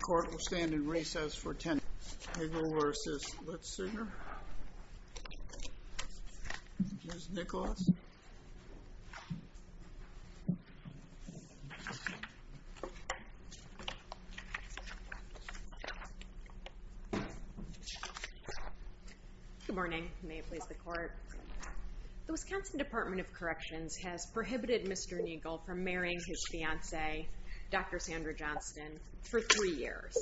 The court will stand in recess for 10 minutes. Nigl v. Litscher. Ms. Nicholas. Good morning. May it please the court. The Wisconsin Department of Corrections has prohibited Mr. Nigl from marrying his fiancee, Dr. Sandra Johnston, for three years.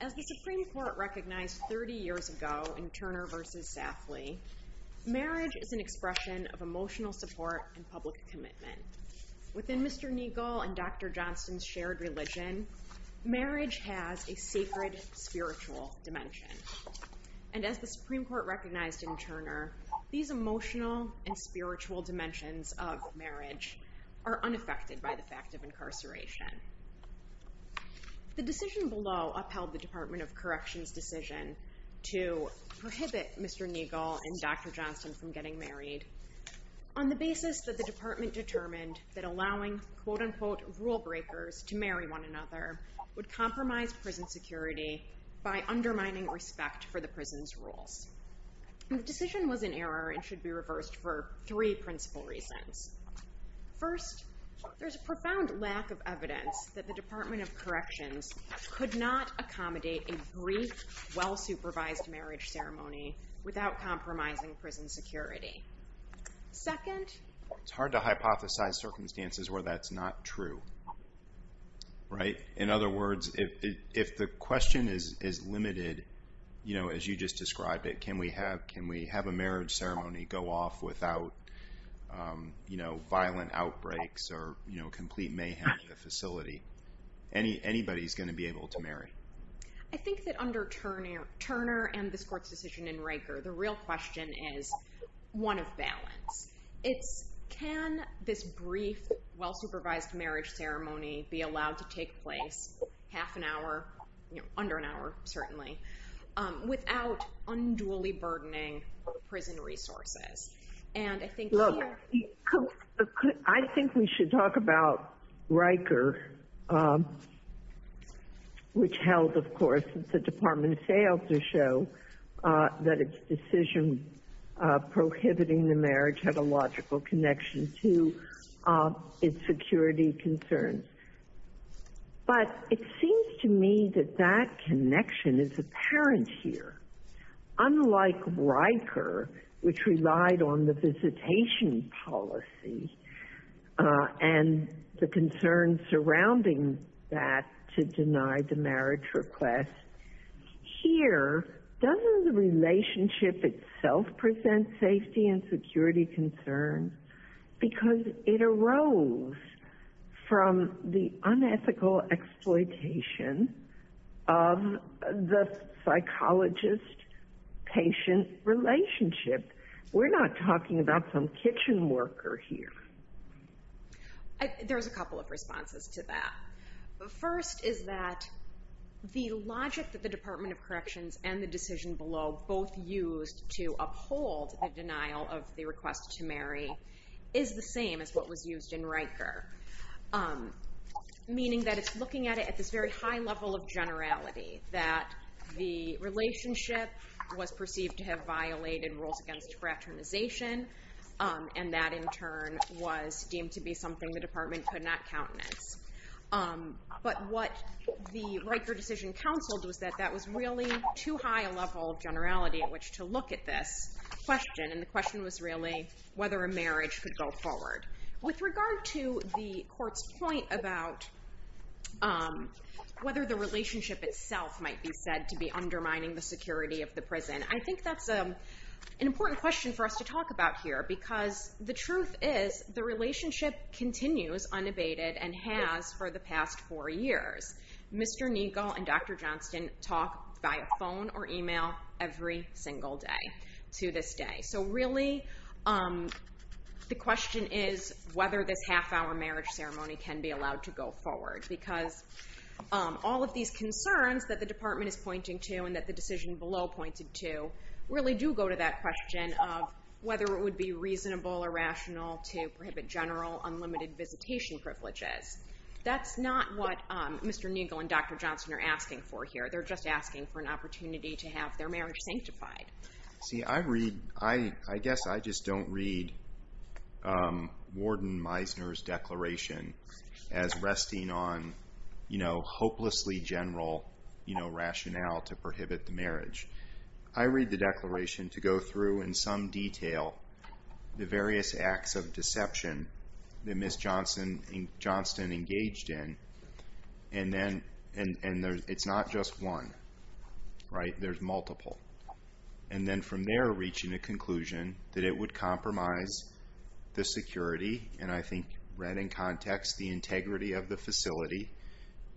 As the Supreme Court recognized 30 years ago in Turner v. Safley, marriage is an expression of emotional support and public commitment. Within Mr. Nigl and Dr. Johnston's shared religion, marriage has a sacred, spiritual dimension. And as the Supreme Court recognized in Turner, these emotional and spiritual dimensions of marriage are unaffected by the fact of incarceration. The decision below upheld the Department of Corrections' decision to prohibit Mr. Nigl and Dr. Johnston from getting married on the basis that the Department determined that allowing quote-unquote rule breakers to marry one another would compromise prison security by undermining respect for the prison's rules. The decision was in error and should be reversed for three principal reasons. First, there's a profound lack of evidence that the Department of Corrections could not accommodate a brief, well-supervised marriage ceremony without compromising prison security. Second, it's hard to hypothesize circumstances where that's not true. Right. In other words, if the question is limited, you know, as you just described it, can we have a marriage ceremony go off without, you know, violent outbreaks or, you know, complete mayhem at the facility? Anybody's going to be able to marry. I think that under Turner and this Court's decision in Raker, the real question is one of balance. It's can this brief, well-supervised marriage ceremony be allowed to take place half an hour, you know, under an hour, certainly, without unduly burdening prison resources? And I think— Look, I think we should talk about Raker, which held, of course, the Department of Sales to show that its decision prohibiting the marriage had a logical connection to its security concerns. But it seems to me that that connection is apparent here. Unlike Raker, which relied on the visitation policy and the concerns surrounding that to deny the marriage request, here, doesn't the relationship itself present safety and security concerns? Because it arose from the unethical exploitation of the psychologist-patient relationship. We're not talking about some kitchen worker here. There's a couple of responses to that. The first is that the logic that the Department of Corrections and the decision below both used to uphold the denial of the request to marry is the same as what was used in Raker, meaning that it's looking at it at this very high level of generality, that the relationship was perceived to have violated rules against fraternization, and that, in turn, was deemed to be something the department could not countenance. But what the Raker decision counseled was that that was really too high a level of generality at which to look at this question, and the question was really whether a marriage could go forward. With regard to the court's point about whether the relationship itself might be said to be undermining the security of the prison, I think that's an important question for us to talk about here, because the truth is the relationship continues unabated and has for the past four years. Mr. Neagle and Dr. Johnston talk via phone or email every single day to this day. So really the question is whether this half-hour marriage ceremony can be allowed to go forward, because all of these concerns that the department is pointing to and that the decision below pointed to really do go to that question of whether it would be reasonable or rational to prohibit general, unlimited visitation privileges. That's not what Mr. Neagle and Dr. Johnston are asking for here. They're just asking for an opportunity to have their marriage sanctified. See, I guess I just don't read Warden Meisner's declaration as resting on hopelessly general rationale to prohibit the marriage. I read the declaration to go through in some detail the various acts of deception that Ms. Johnston engaged in, and it's not just one, right? There's multiple. And then from there reaching a conclusion that it would compromise the security, and I think read in context the integrity of the facility,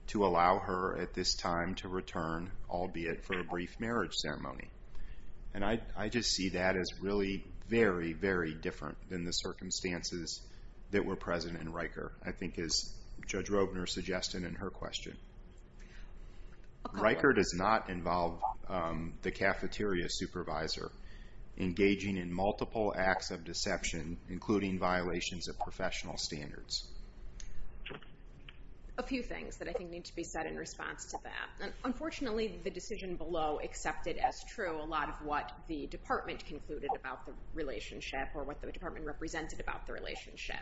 to allow her at this time to return, albeit for a brief marriage ceremony. And I just see that as really very, very different than the circumstances that were present in Riker, I think as Judge Robner suggested in her question. Riker does not involve the cafeteria supervisor engaging in multiple acts of deception, including violations of professional standards. A few things that I think need to be said in response to that. Unfortunately, the decision below accepted as true a lot of what the department concluded about the relationship or what the department represented about the relationship.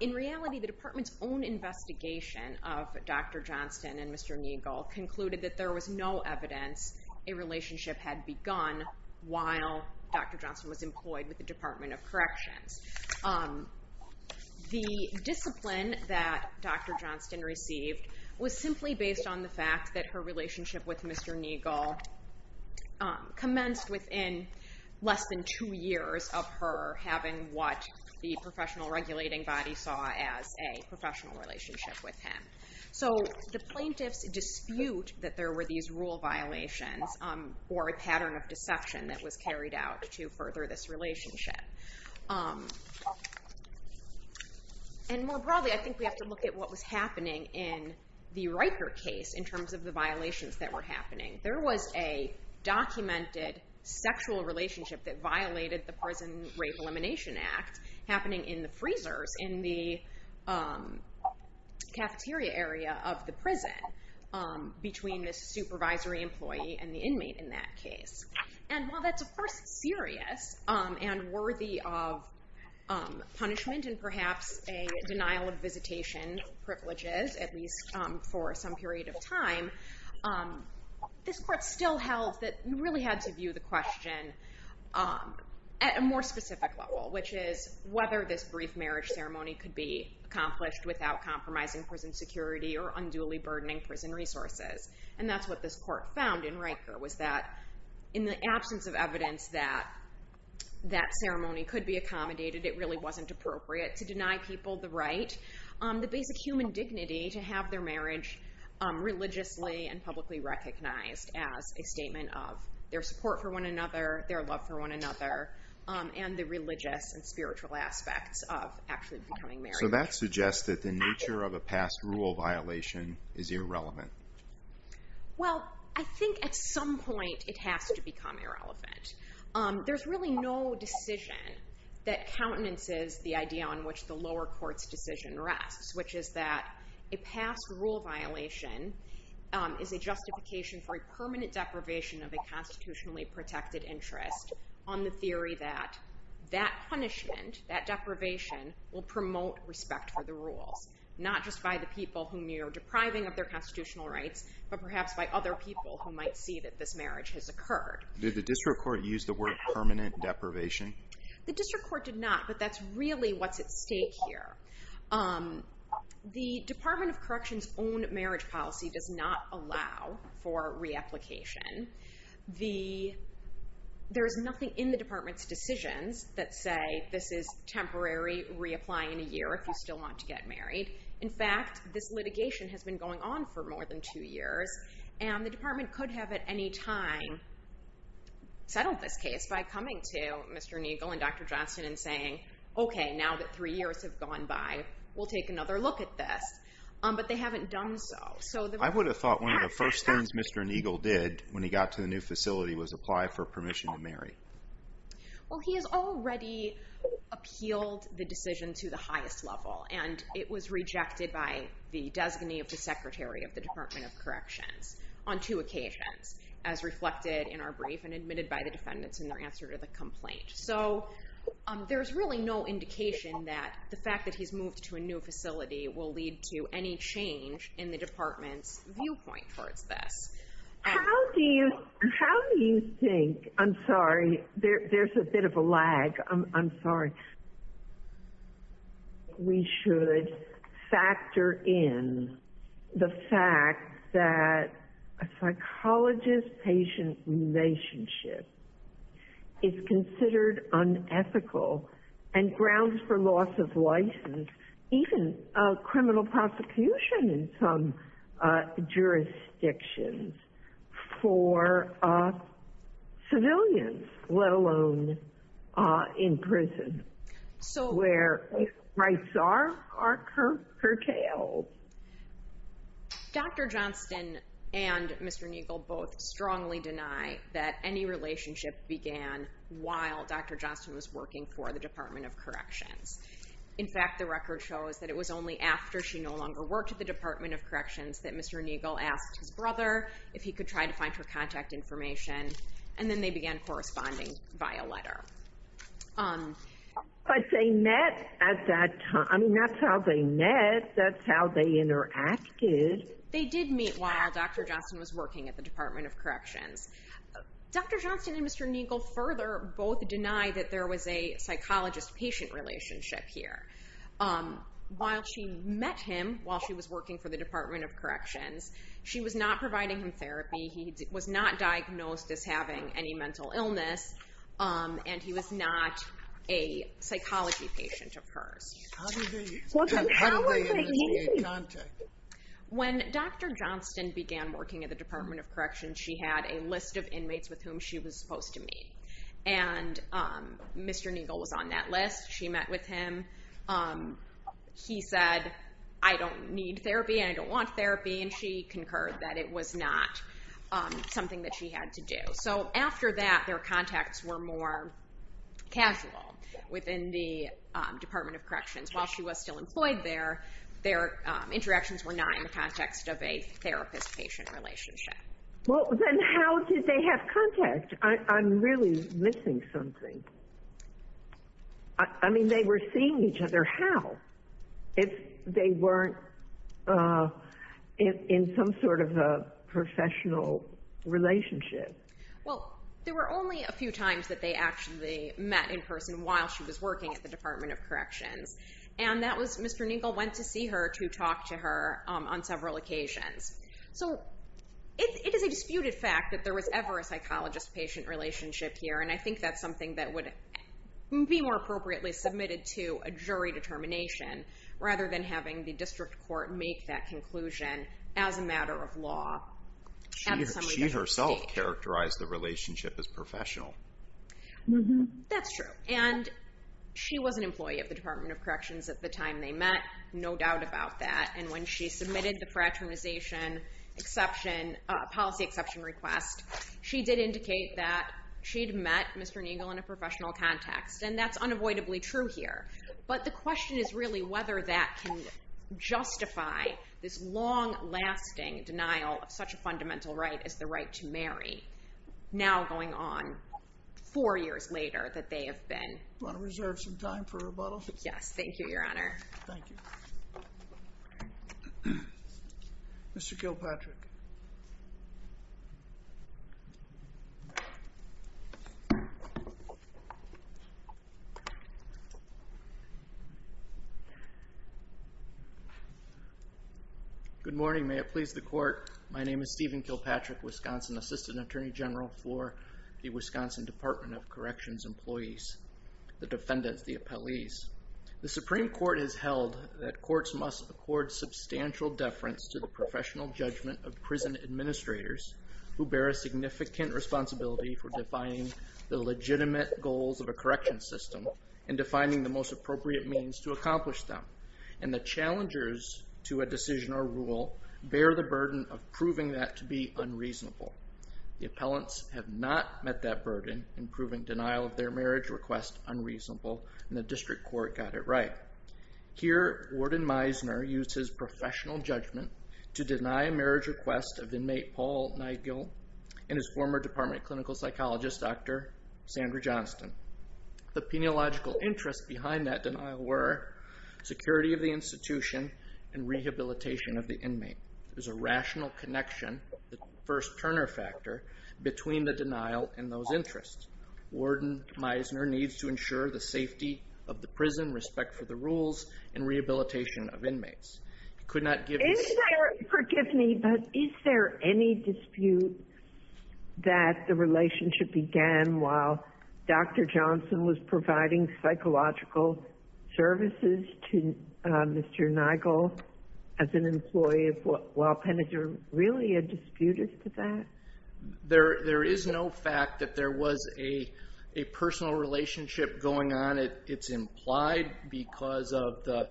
In reality, the department's own investigation of Dr. Johnston and Mr. Neagle concluded that there was no evidence a relationship had begun while Dr. Johnston was employed with the Department of Corrections. The discipline that Dr. Johnston received was simply based on the fact that her relationship with Mr. Neagle commenced within less than two years of her having what the professional regulating body saw as a professional relationship with him. So the plaintiffs dispute that there were these rule violations or a pattern of deception that was carried out to further this relationship. And more broadly, I think we have to look at what was happening in the Riker case in terms of the violations that were happening. There was a documented sexual relationship that violated the Prison Rape Elimination Act happening in the freezers in the cafeteria area of the prison between the supervisory employee and the inmate in that case. And while that's, of course, serious and worthy of punishment and perhaps a denial of visitation privileges, at least for some period of time, this court still held that you really had to view the question at a more specific level, which is whether this brief marriage ceremony could be accomplished without compromising prison security or unduly burdening prison resources. And that's what this court found in Riker, was that in the absence of evidence that that ceremony could be accommodated, it really wasn't appropriate to deny people the right, the basic human dignity to have their marriage religiously and publicly recognized as a statement of their support for one another, their love for one another, and the religious and spiritual aspects of actually becoming married. So that suggests that the nature of a past rule violation is irrelevant. Well, I think at some point it has to become irrelevant. There's really no decision that countenances the idea on which the lower court's decision rests, which is that a past rule violation is a justification for a permanent deprivation of a constitutionally protected interest on the theory that that punishment, that deprivation, will promote respect for the rules, not just by the people whom you're depriving of their constitutional rights, but perhaps by other people who might see that this marriage has occurred. Did the district court use the word permanent deprivation? The district court did not, but that's really what's at stake here. The Department of Correction's own marriage policy does not allow for reapplication. There is nothing in the department's decisions that say this is temporary reapplying a year if you still want to get married. In fact, this litigation has been going on for more than two years, and the department could have at any time settled this case by coming to Mr. Neagle and Dr. Johnston and saying, okay, now that three years have gone by, we'll take another look at this. But they haven't done so. I would have thought one of the first things Mr. Neagle did when he got to the new facility was apply for permission to marry. Well, he has already appealed the decision to the highest level, and it was rejected by the designee of the secretary of the Department of Corrections on two occasions, as reflected in our brief and admitted by the defendants in their answer to the complaint. So there's really no indication that the fact that he's moved to a new facility will lead to any change in the department's viewpoint towards this. How do you think – I'm sorry, there's a bit of a lag. I'm sorry. We should factor in the fact that a psychologist-patient relationship is considered unethical and grounds for loss of license, even criminal prosecution in some jurisdictions, for civilians, let alone in prison, where rights are curtailed. Dr. Johnston and Mr. Neagle both strongly deny that any relationship began while Dr. Johnston was working for the Department of Corrections. In fact, the record shows that it was only after she no longer worked at the Department of Corrections that Mr. Neagle asked his brother if he could try to find her contact information, and then they began corresponding via letter. But they met at that time. I mean, that's how they met. That's how they interacted. They did meet while Dr. Johnston was working at the Department of Corrections. Dr. Johnston and Mr. Neagle further both deny that there was a psychologist-patient relationship here. While she met him while she was working for the Department of Corrections, she was not providing him therapy, he was not diagnosed as having any mental illness, and he was not a psychology patient of hers. How did they meet? When Dr. Johnston began working at the Department of Corrections, she had a list of inmates with whom she was supposed to meet, and Mr. Neagle was on that list. She met with him. He said, I don't need therapy and I don't want therapy, and she concurred that it was not something that she had to do. So after that, their contacts were more casual within the Department of Corrections. While she was still employed there, their interactions were not in the context of a therapist-patient relationship. Well, then how did they have contact? I'm really missing something. I mean, they were seeing each other. How? If they weren't in some sort of a professional relationship. Well, there were only a few times that they actually met in person while she was working at the Department of Corrections, and Mr. Neagle went to see her to talk to her on several occasions. So it is a disputed fact that there was ever a psychologist-patient relationship here, and I think that's something that would be more appropriately submitted to a jury determination rather than having the district court make that conclusion as a matter of law. She herself characterized the relationship as professional. That's true, and she was an employee of the Department of Corrections at the time they met, no doubt about that, and when she submitted the policy exception request, she did indicate that she'd met Mr. Neagle in a professional context, and that's unavoidably true here. But the question is really whether that can justify this long-lasting denial of such a fundamental right as the right to marry, now going on four years later that they have been. Do you want to reserve some time for rebuttal? Yes, thank you, Your Honor. Thank you. Mr. Kilpatrick. Good morning. May it please the Court. My name is Stephen Kilpatrick, Wisconsin Assistant Attorney General for the Wisconsin Department of Corrections employees, the defendants, the appellees. The Supreme Court has held that courts must accord substantial deference to the professional judgment of prison administrators who bear a significant responsibility for defining the legitimate goals of a correction system and defining the most appropriate means to accomplish them, and the challengers to a decision or rule bear the burden of proving that to be unreasonable. The appellants have not met that burden in proving denial of their marriage request unreasonable, and the district court got it right. Here, Warden Meisner used his professional judgment to deny a marriage request of inmate Paul Nigel and his former department clinical psychologist, Dr. Sandra Johnston. The peniological interests behind that denial were security of the institution and rehabilitation of the inmate. There's a rational connection, the first turner factor, between the denial and those interests. Warden Meisner needs to ensure the safety of the prison, respect for the rules, and rehabilitation of inmates. He could not give his... Is there, forgive me, but is there any dispute that the relationship began while Dr. Johnston was providing psychological services to Mr. Nigel as an employee while Penninger really had disputed that? There is no fact that there was a personal relationship going on. It's implied because of the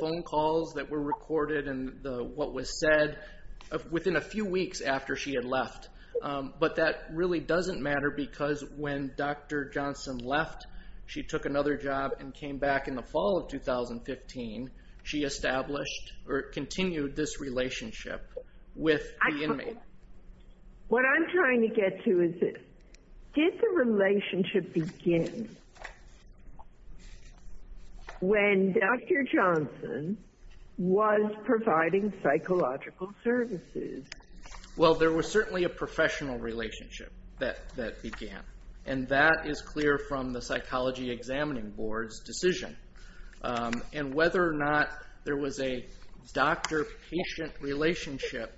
phone calls that were recorded and what was said within a few weeks after she had left. But that really doesn't matter because when Dr. Johnston left, she took another job and came back in the fall of 2015. She established or continued this relationship with the inmate. What I'm trying to get to is this. Did the relationship begin when Dr. Johnston was providing psychological services? Well, there was certainly a professional relationship that began, and that is clear from the psychology examining board's decision. And whether or not there was a doctor-patient relationship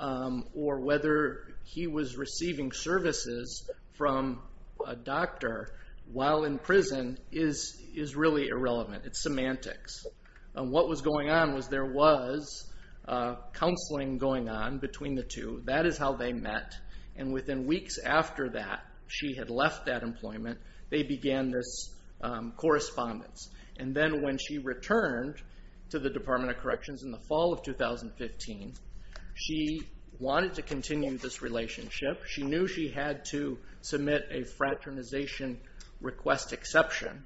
or whether he was receiving services from a doctor while in prison is really irrelevant. It's semantics. What was going on was there was counseling going on between the two. That is how they met, and within weeks after that, she had left that employment. They began this correspondence. And then when she returned to the Department of Corrections in the fall of 2015, she wanted to continue this relationship. She knew she had to submit a fraternization request exception.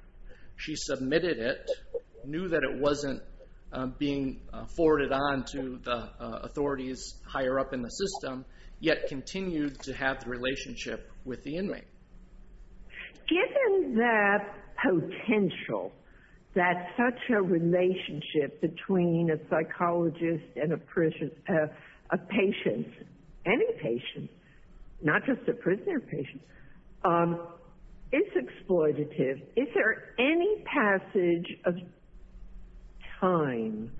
She submitted it, knew that it wasn't being forwarded on to the authorities higher up in the system, yet continued to have the relationship with the inmate. Given the potential that such a relationship between a psychologist and a patient, any patient, not just a prisoner patient, is exploitative, is there any passage of time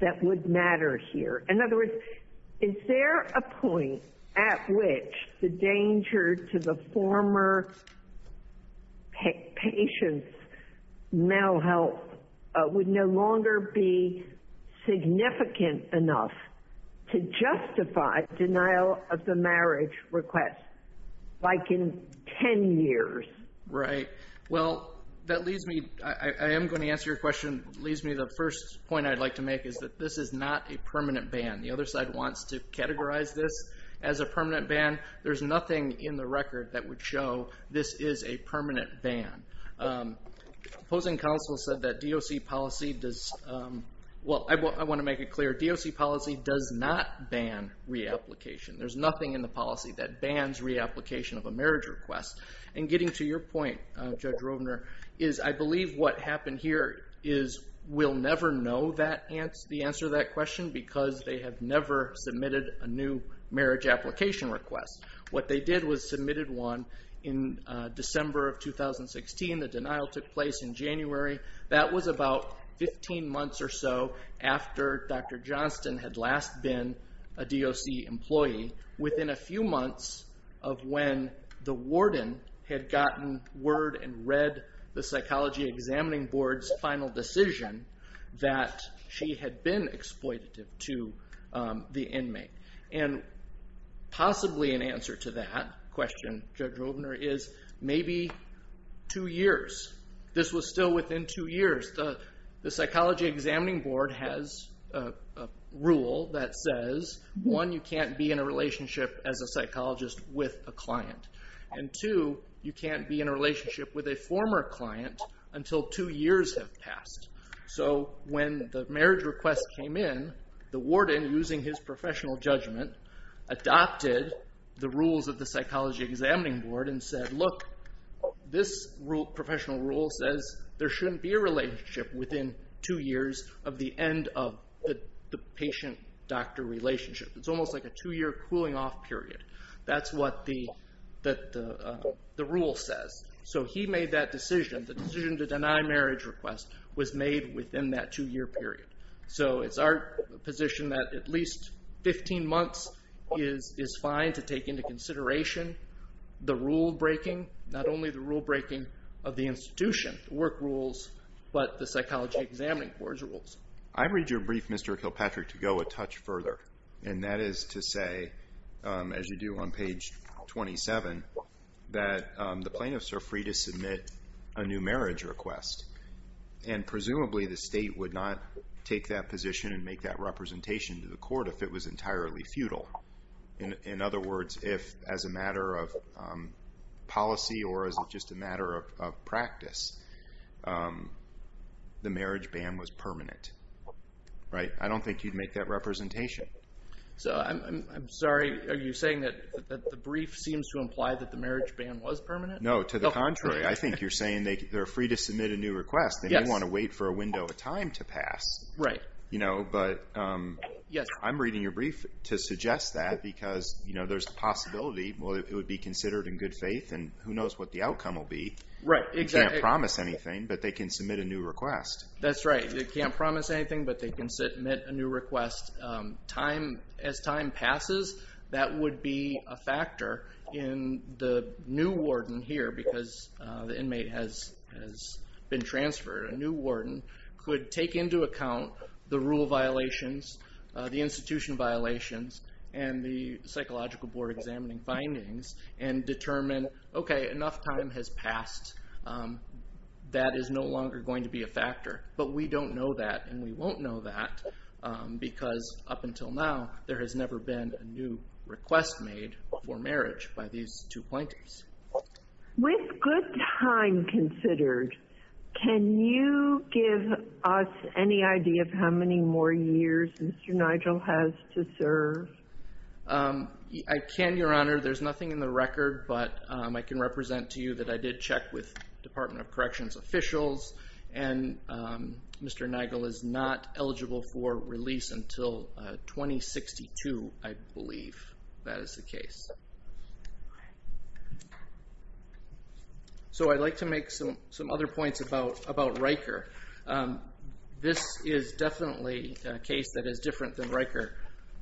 that would matter here? In other words, is there a point at which the danger to the former patient's mental health would no longer be significant enough to justify denial of the marriage request, like in 10 years? Right. Well, that leads me, I am going to answer your question, leads me to the first point I would like to make, is that this is not a permanent ban. The other side wants to categorize this as a permanent ban. There is nothing in the record that would show this is a permanent ban. Opposing counsel said that DOC policy does, well, I want to make it clear, DOC policy does not ban reapplication. There is nothing in the policy that bans reapplication of a marriage request. And getting to your point, Judge Rovner, is I believe what happened here is we'll never know the answer to that question because they have never submitted a new marriage application request. What they did was submitted one in December of 2016. The denial took place in January. That was about 15 months or so after Dr. Johnston had last been a DOC employee. Within a few months of when the warden had gotten word and read the psychology examining board's final decision that she had been exploitative to the inmate. And possibly an answer to that question, Judge Rovner, is maybe two years. This was still within two years. The psychology examining board has a rule that says, one, you can't be in a relationship as a psychologist with a client. And two, you can't be in a relationship with a former client until two years have passed. So when the marriage request came in, the warden, using his professional judgment, adopted the rules of the psychology examining board and said, look, this professional rule says there shouldn't be a relationship within two years of the end of the patient-doctor relationship. It's almost like a two-year cooling-off period. That's what the rule says. So he made that decision. The decision to deny marriage request was made within that two-year period. So it's our position that at least 15 months is fine to take into consideration the rule-breaking, not only the rule-breaking of the institution, the work rules, but the psychology examining board's rules. I read your brief, Mr. Kilpatrick, to go a touch further, and that is to say, as you do on page 27, that the plaintiffs are free to submit a new marriage request, and presumably the state would not take that position and make that representation to the court if it was entirely futile. In other words, if as a matter of policy or as just a matter of practice, the marriage ban was permanent. I don't think you'd make that representation. I'm sorry. Are you saying that the brief seems to imply that the marriage ban was permanent? No, to the contrary. I think you're saying they're free to submit a new request. They didn't want to wait for a window of time to pass. But I'm reading your brief to suggest that because there's a possibility, well, it would be considered in good faith, and who knows what the outcome will be. They can't promise anything, but they can submit a new request. That's right. They can't promise anything, but they can submit a new request. As time passes, that would be a factor in the new warden here because the inmate has been transferred. A new warden could take into account the rule violations, the institution violations, and the psychological board examining findings and determine, okay, enough time has passed. That is no longer going to be a factor. But we don't know that, and we won't know that because up until now, there has never been a new request made for marriage by these two plaintiffs. With good time considered, can you give us any idea of how many more years Mr. Nigel has to serve? I can, Your Honor. There's nothing in the record, but I can represent to you that I did check with Department of Corrections officials, and Mr. Nigel is not eligible for release until 2062, I believe. That is the case. I'd like to make some other points about Riker. This is definitely a case that is different than Riker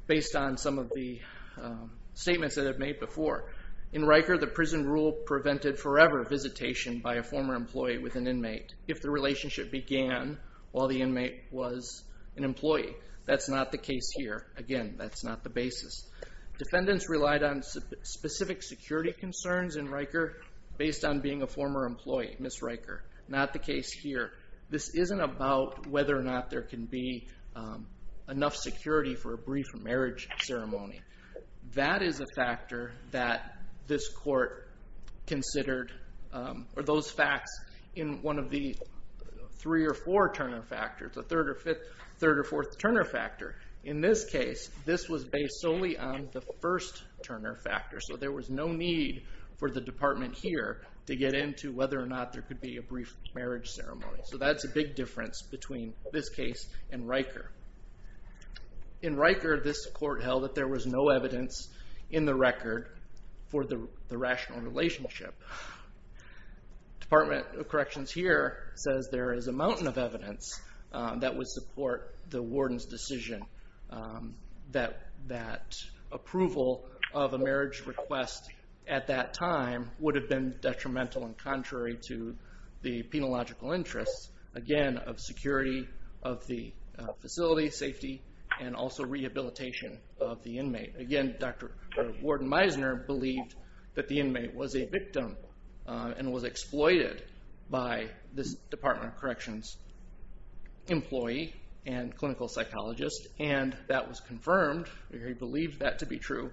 based on some of the statements that I've made before. In Riker, the prison rule prevented forever visitation by a former employee with an inmate if the relationship began while the inmate was an employee. That's not the case here. Again, that's not the basis. Defendants relied on specific security concerns in Riker based on being a former employee, Ms. Riker. Not the case here. This isn't about whether or not there can be enough security for a brief marriage ceremony. That is a factor that this court considered, or those facts in one of the three or four Turner factors, the third or fourth Turner factor. In this case, this was based solely on the first Turner factor, so there was no need for the department here to get into whether or not there could be a brief marriage ceremony. That's a big difference between this case and Riker. In Riker, this court held that there was no evidence in the record for the rational relationship. Department of Corrections here says there is a mountain of evidence that would support the warden's decision that approval of a marriage request at that time would have been detrimental and contrary to the penological interests, again, of security of the facility, safety, and also rehabilitation of the inmate. Again, Dr. Warden Meisner believed that the inmate was a victim and was exploited by this Department of Corrections employee and clinical psychologist, and that was confirmed, or he believed that to be true,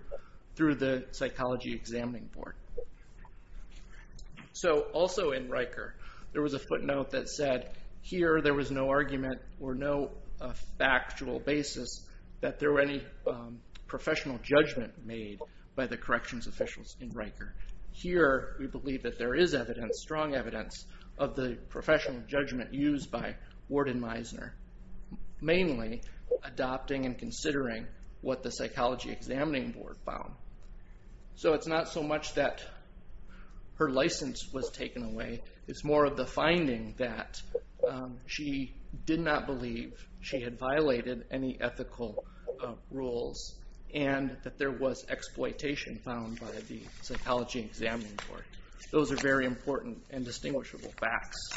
through the psychology examining board. Also in Riker, there was a footnote that said here there was no argument or no factual basis by the corrections officials in Riker. Here we believe that there is evidence, strong evidence, of the professional judgment used by Warden Meisner, mainly adopting and considering what the psychology examining board found. So it's not so much that her license was taken away. It's more of the finding that she did not believe she had violated any ethical rules and that there was exploitation found by the psychology examining board. Those are very important and distinguishable facts.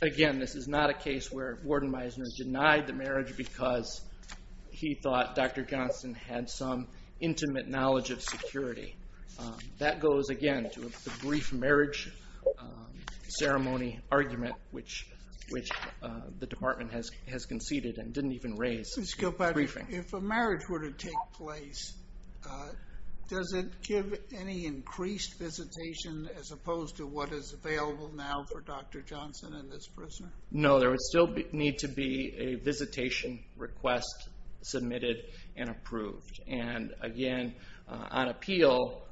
Again, this is not a case where Warden Meisner denied the marriage because he thought Dr. Johnston had some intimate knowledge of security. That goes, again, to the brief marriage ceremony argument which the department has conceded and didn't even raise. If a marriage were to take place, does it give any increased visitation as opposed to what is available now for Dr. Johnston and this prisoner? No, there would still need to be a visitation request submitted and approved. Again, on appeal,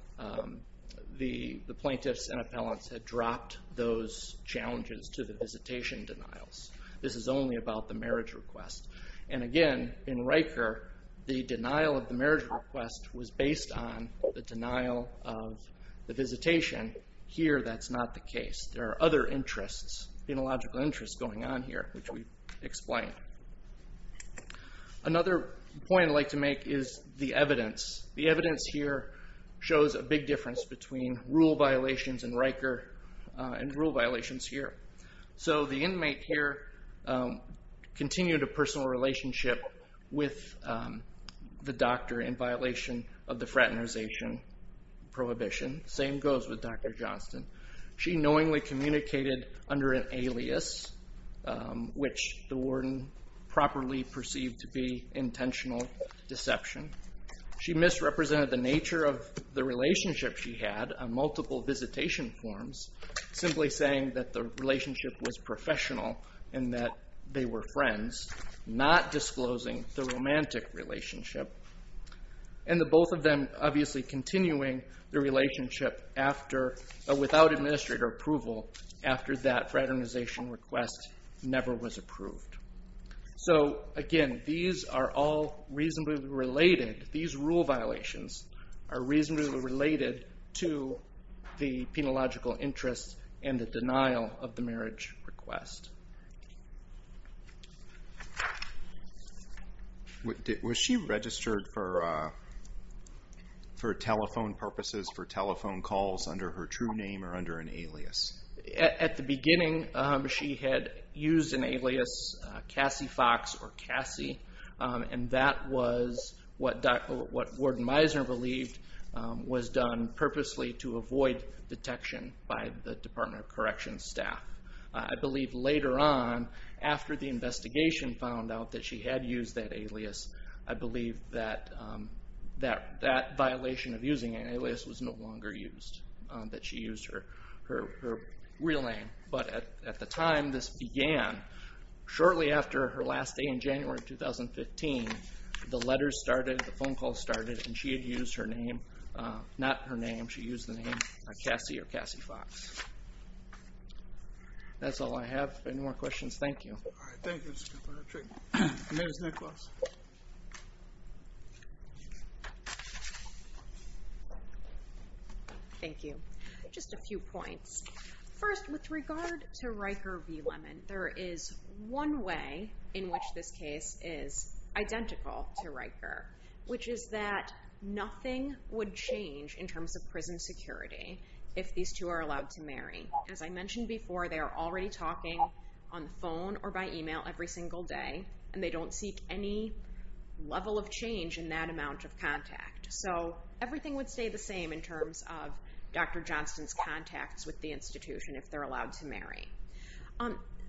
the plaintiffs and appellants had dropped those challenges to the visitation denials. This is only about the marriage request. Again, in Riker, the denial of the marriage request was based on the denial of the visitation. Here, that's not the case. There are other interests, phenological interests going on here, which we explained. Another point I'd like to make is the evidence. The evidence here shows a big difference between rule violations in Riker and rule violations here. The inmate here continued a personal relationship with the doctor in violation of the fraternization prohibition. Same goes with Dr. Johnston. She knowingly communicated under an alias, which the warden properly perceived to be intentional deception. She misrepresented the nature of the relationship she had on multiple visitation forms, simply saying that the relationship was professional and that they were friends, not disclosing the romantic relationship. Both of them obviously continuing the relationship without administrator approval after that fraternization request never was approved. Again, these are all reasonably related. These rule violations are reasonably related to the penological interests and the denial of the marriage request. Was she registered for telephone purposes, for telephone calls under her true name or under an alias? At the beginning, she had used an alias, Cassie Fox or Cassie, and that was what Warden Meisner believed was done purposely to avoid detection by the Department of Corrections staff. I believe later on, after the investigation found out that she had used that alias, I believe that that violation of using an alias was no longer used, that she used her real name. But at the time this began, shortly after her last day in January of 2015, the letters started, the phone calls started, and she had used her name, not her name, she used the name Cassie or Cassie Fox. That's all I have. Any more questions? Thank you. All right, thank you, Mr. Kirkpatrick. Ms. Nicholas. Thank you. Just a few points. First, with regard to Riker v. Lemon, there is one way in which this case is identical to Riker, which is that nothing would change in terms of prison security if these two are allowed to marry. As I mentioned before, they are already talking on the phone or by email every single day, and they don't seek any level of change in that amount of contact. So everything would stay the same in terms of Dr. Johnston's contacts with the institution if they're allowed to marry.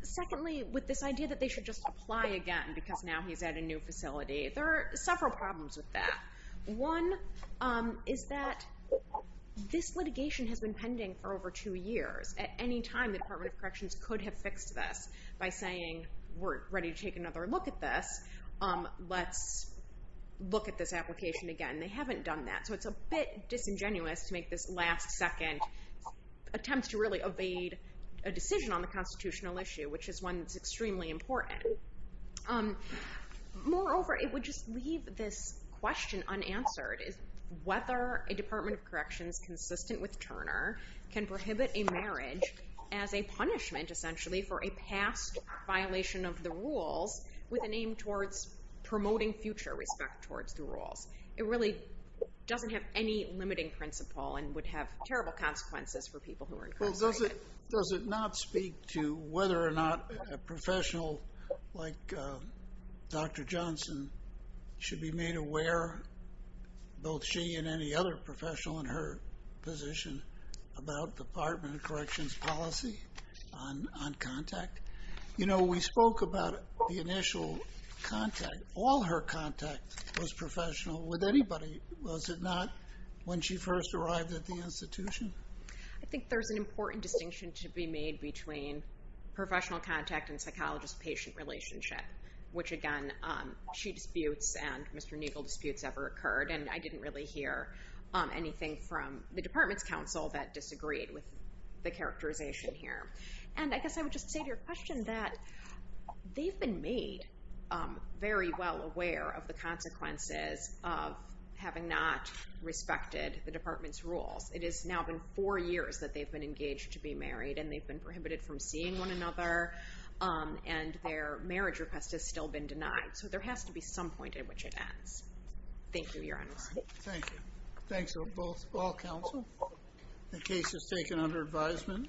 Secondly, with this idea that they should just apply again because now he's at a new facility, there are several problems with that. One is that this litigation has been pending for over two years. At any time, the Department of Corrections could have fixed this by saying, we're ready to take another look at this, let's look at this application again. They haven't done that, so it's a bit disingenuous to make this last-second attempt to really evade a decision on the constitutional issue, which is one that's extremely important. Moreover, it would just leave this question unanswered, whether a Department of Corrections, consistent with Turner, can prohibit a marriage as a punishment, essentially, for a past violation of the rules with an aim towards promoting future respect towards the rules. It really doesn't have any limiting principle and would have terrible consequences for people who are incarcerated. Does it not speak to whether or not a professional like Dr. Johnson should be made aware, both she and any other professional in her position, about Department of Corrections policy on contact? You know, we spoke about the initial contact. All her contact was professional with anybody, was it not? When she first arrived at the institution? I think there's an important distinction to be made between professional contact and psychologist-patient relationship, which, again, she disputes and Mr. Neagle disputes ever occurred, and I didn't really hear anything from the department's counsel that disagreed with the characterization here. And I guess I would just say to your question that they've been made very well aware of the consequences of having not respected the department's rules. It has now been four years that they've been engaged to be married and they've been prohibited from seeing one another and their marriage request has still been denied. So there has to be some point at which it ends. Thank you, Your Honor. Thank you. Thanks to all counsel. The case is taken under advisement.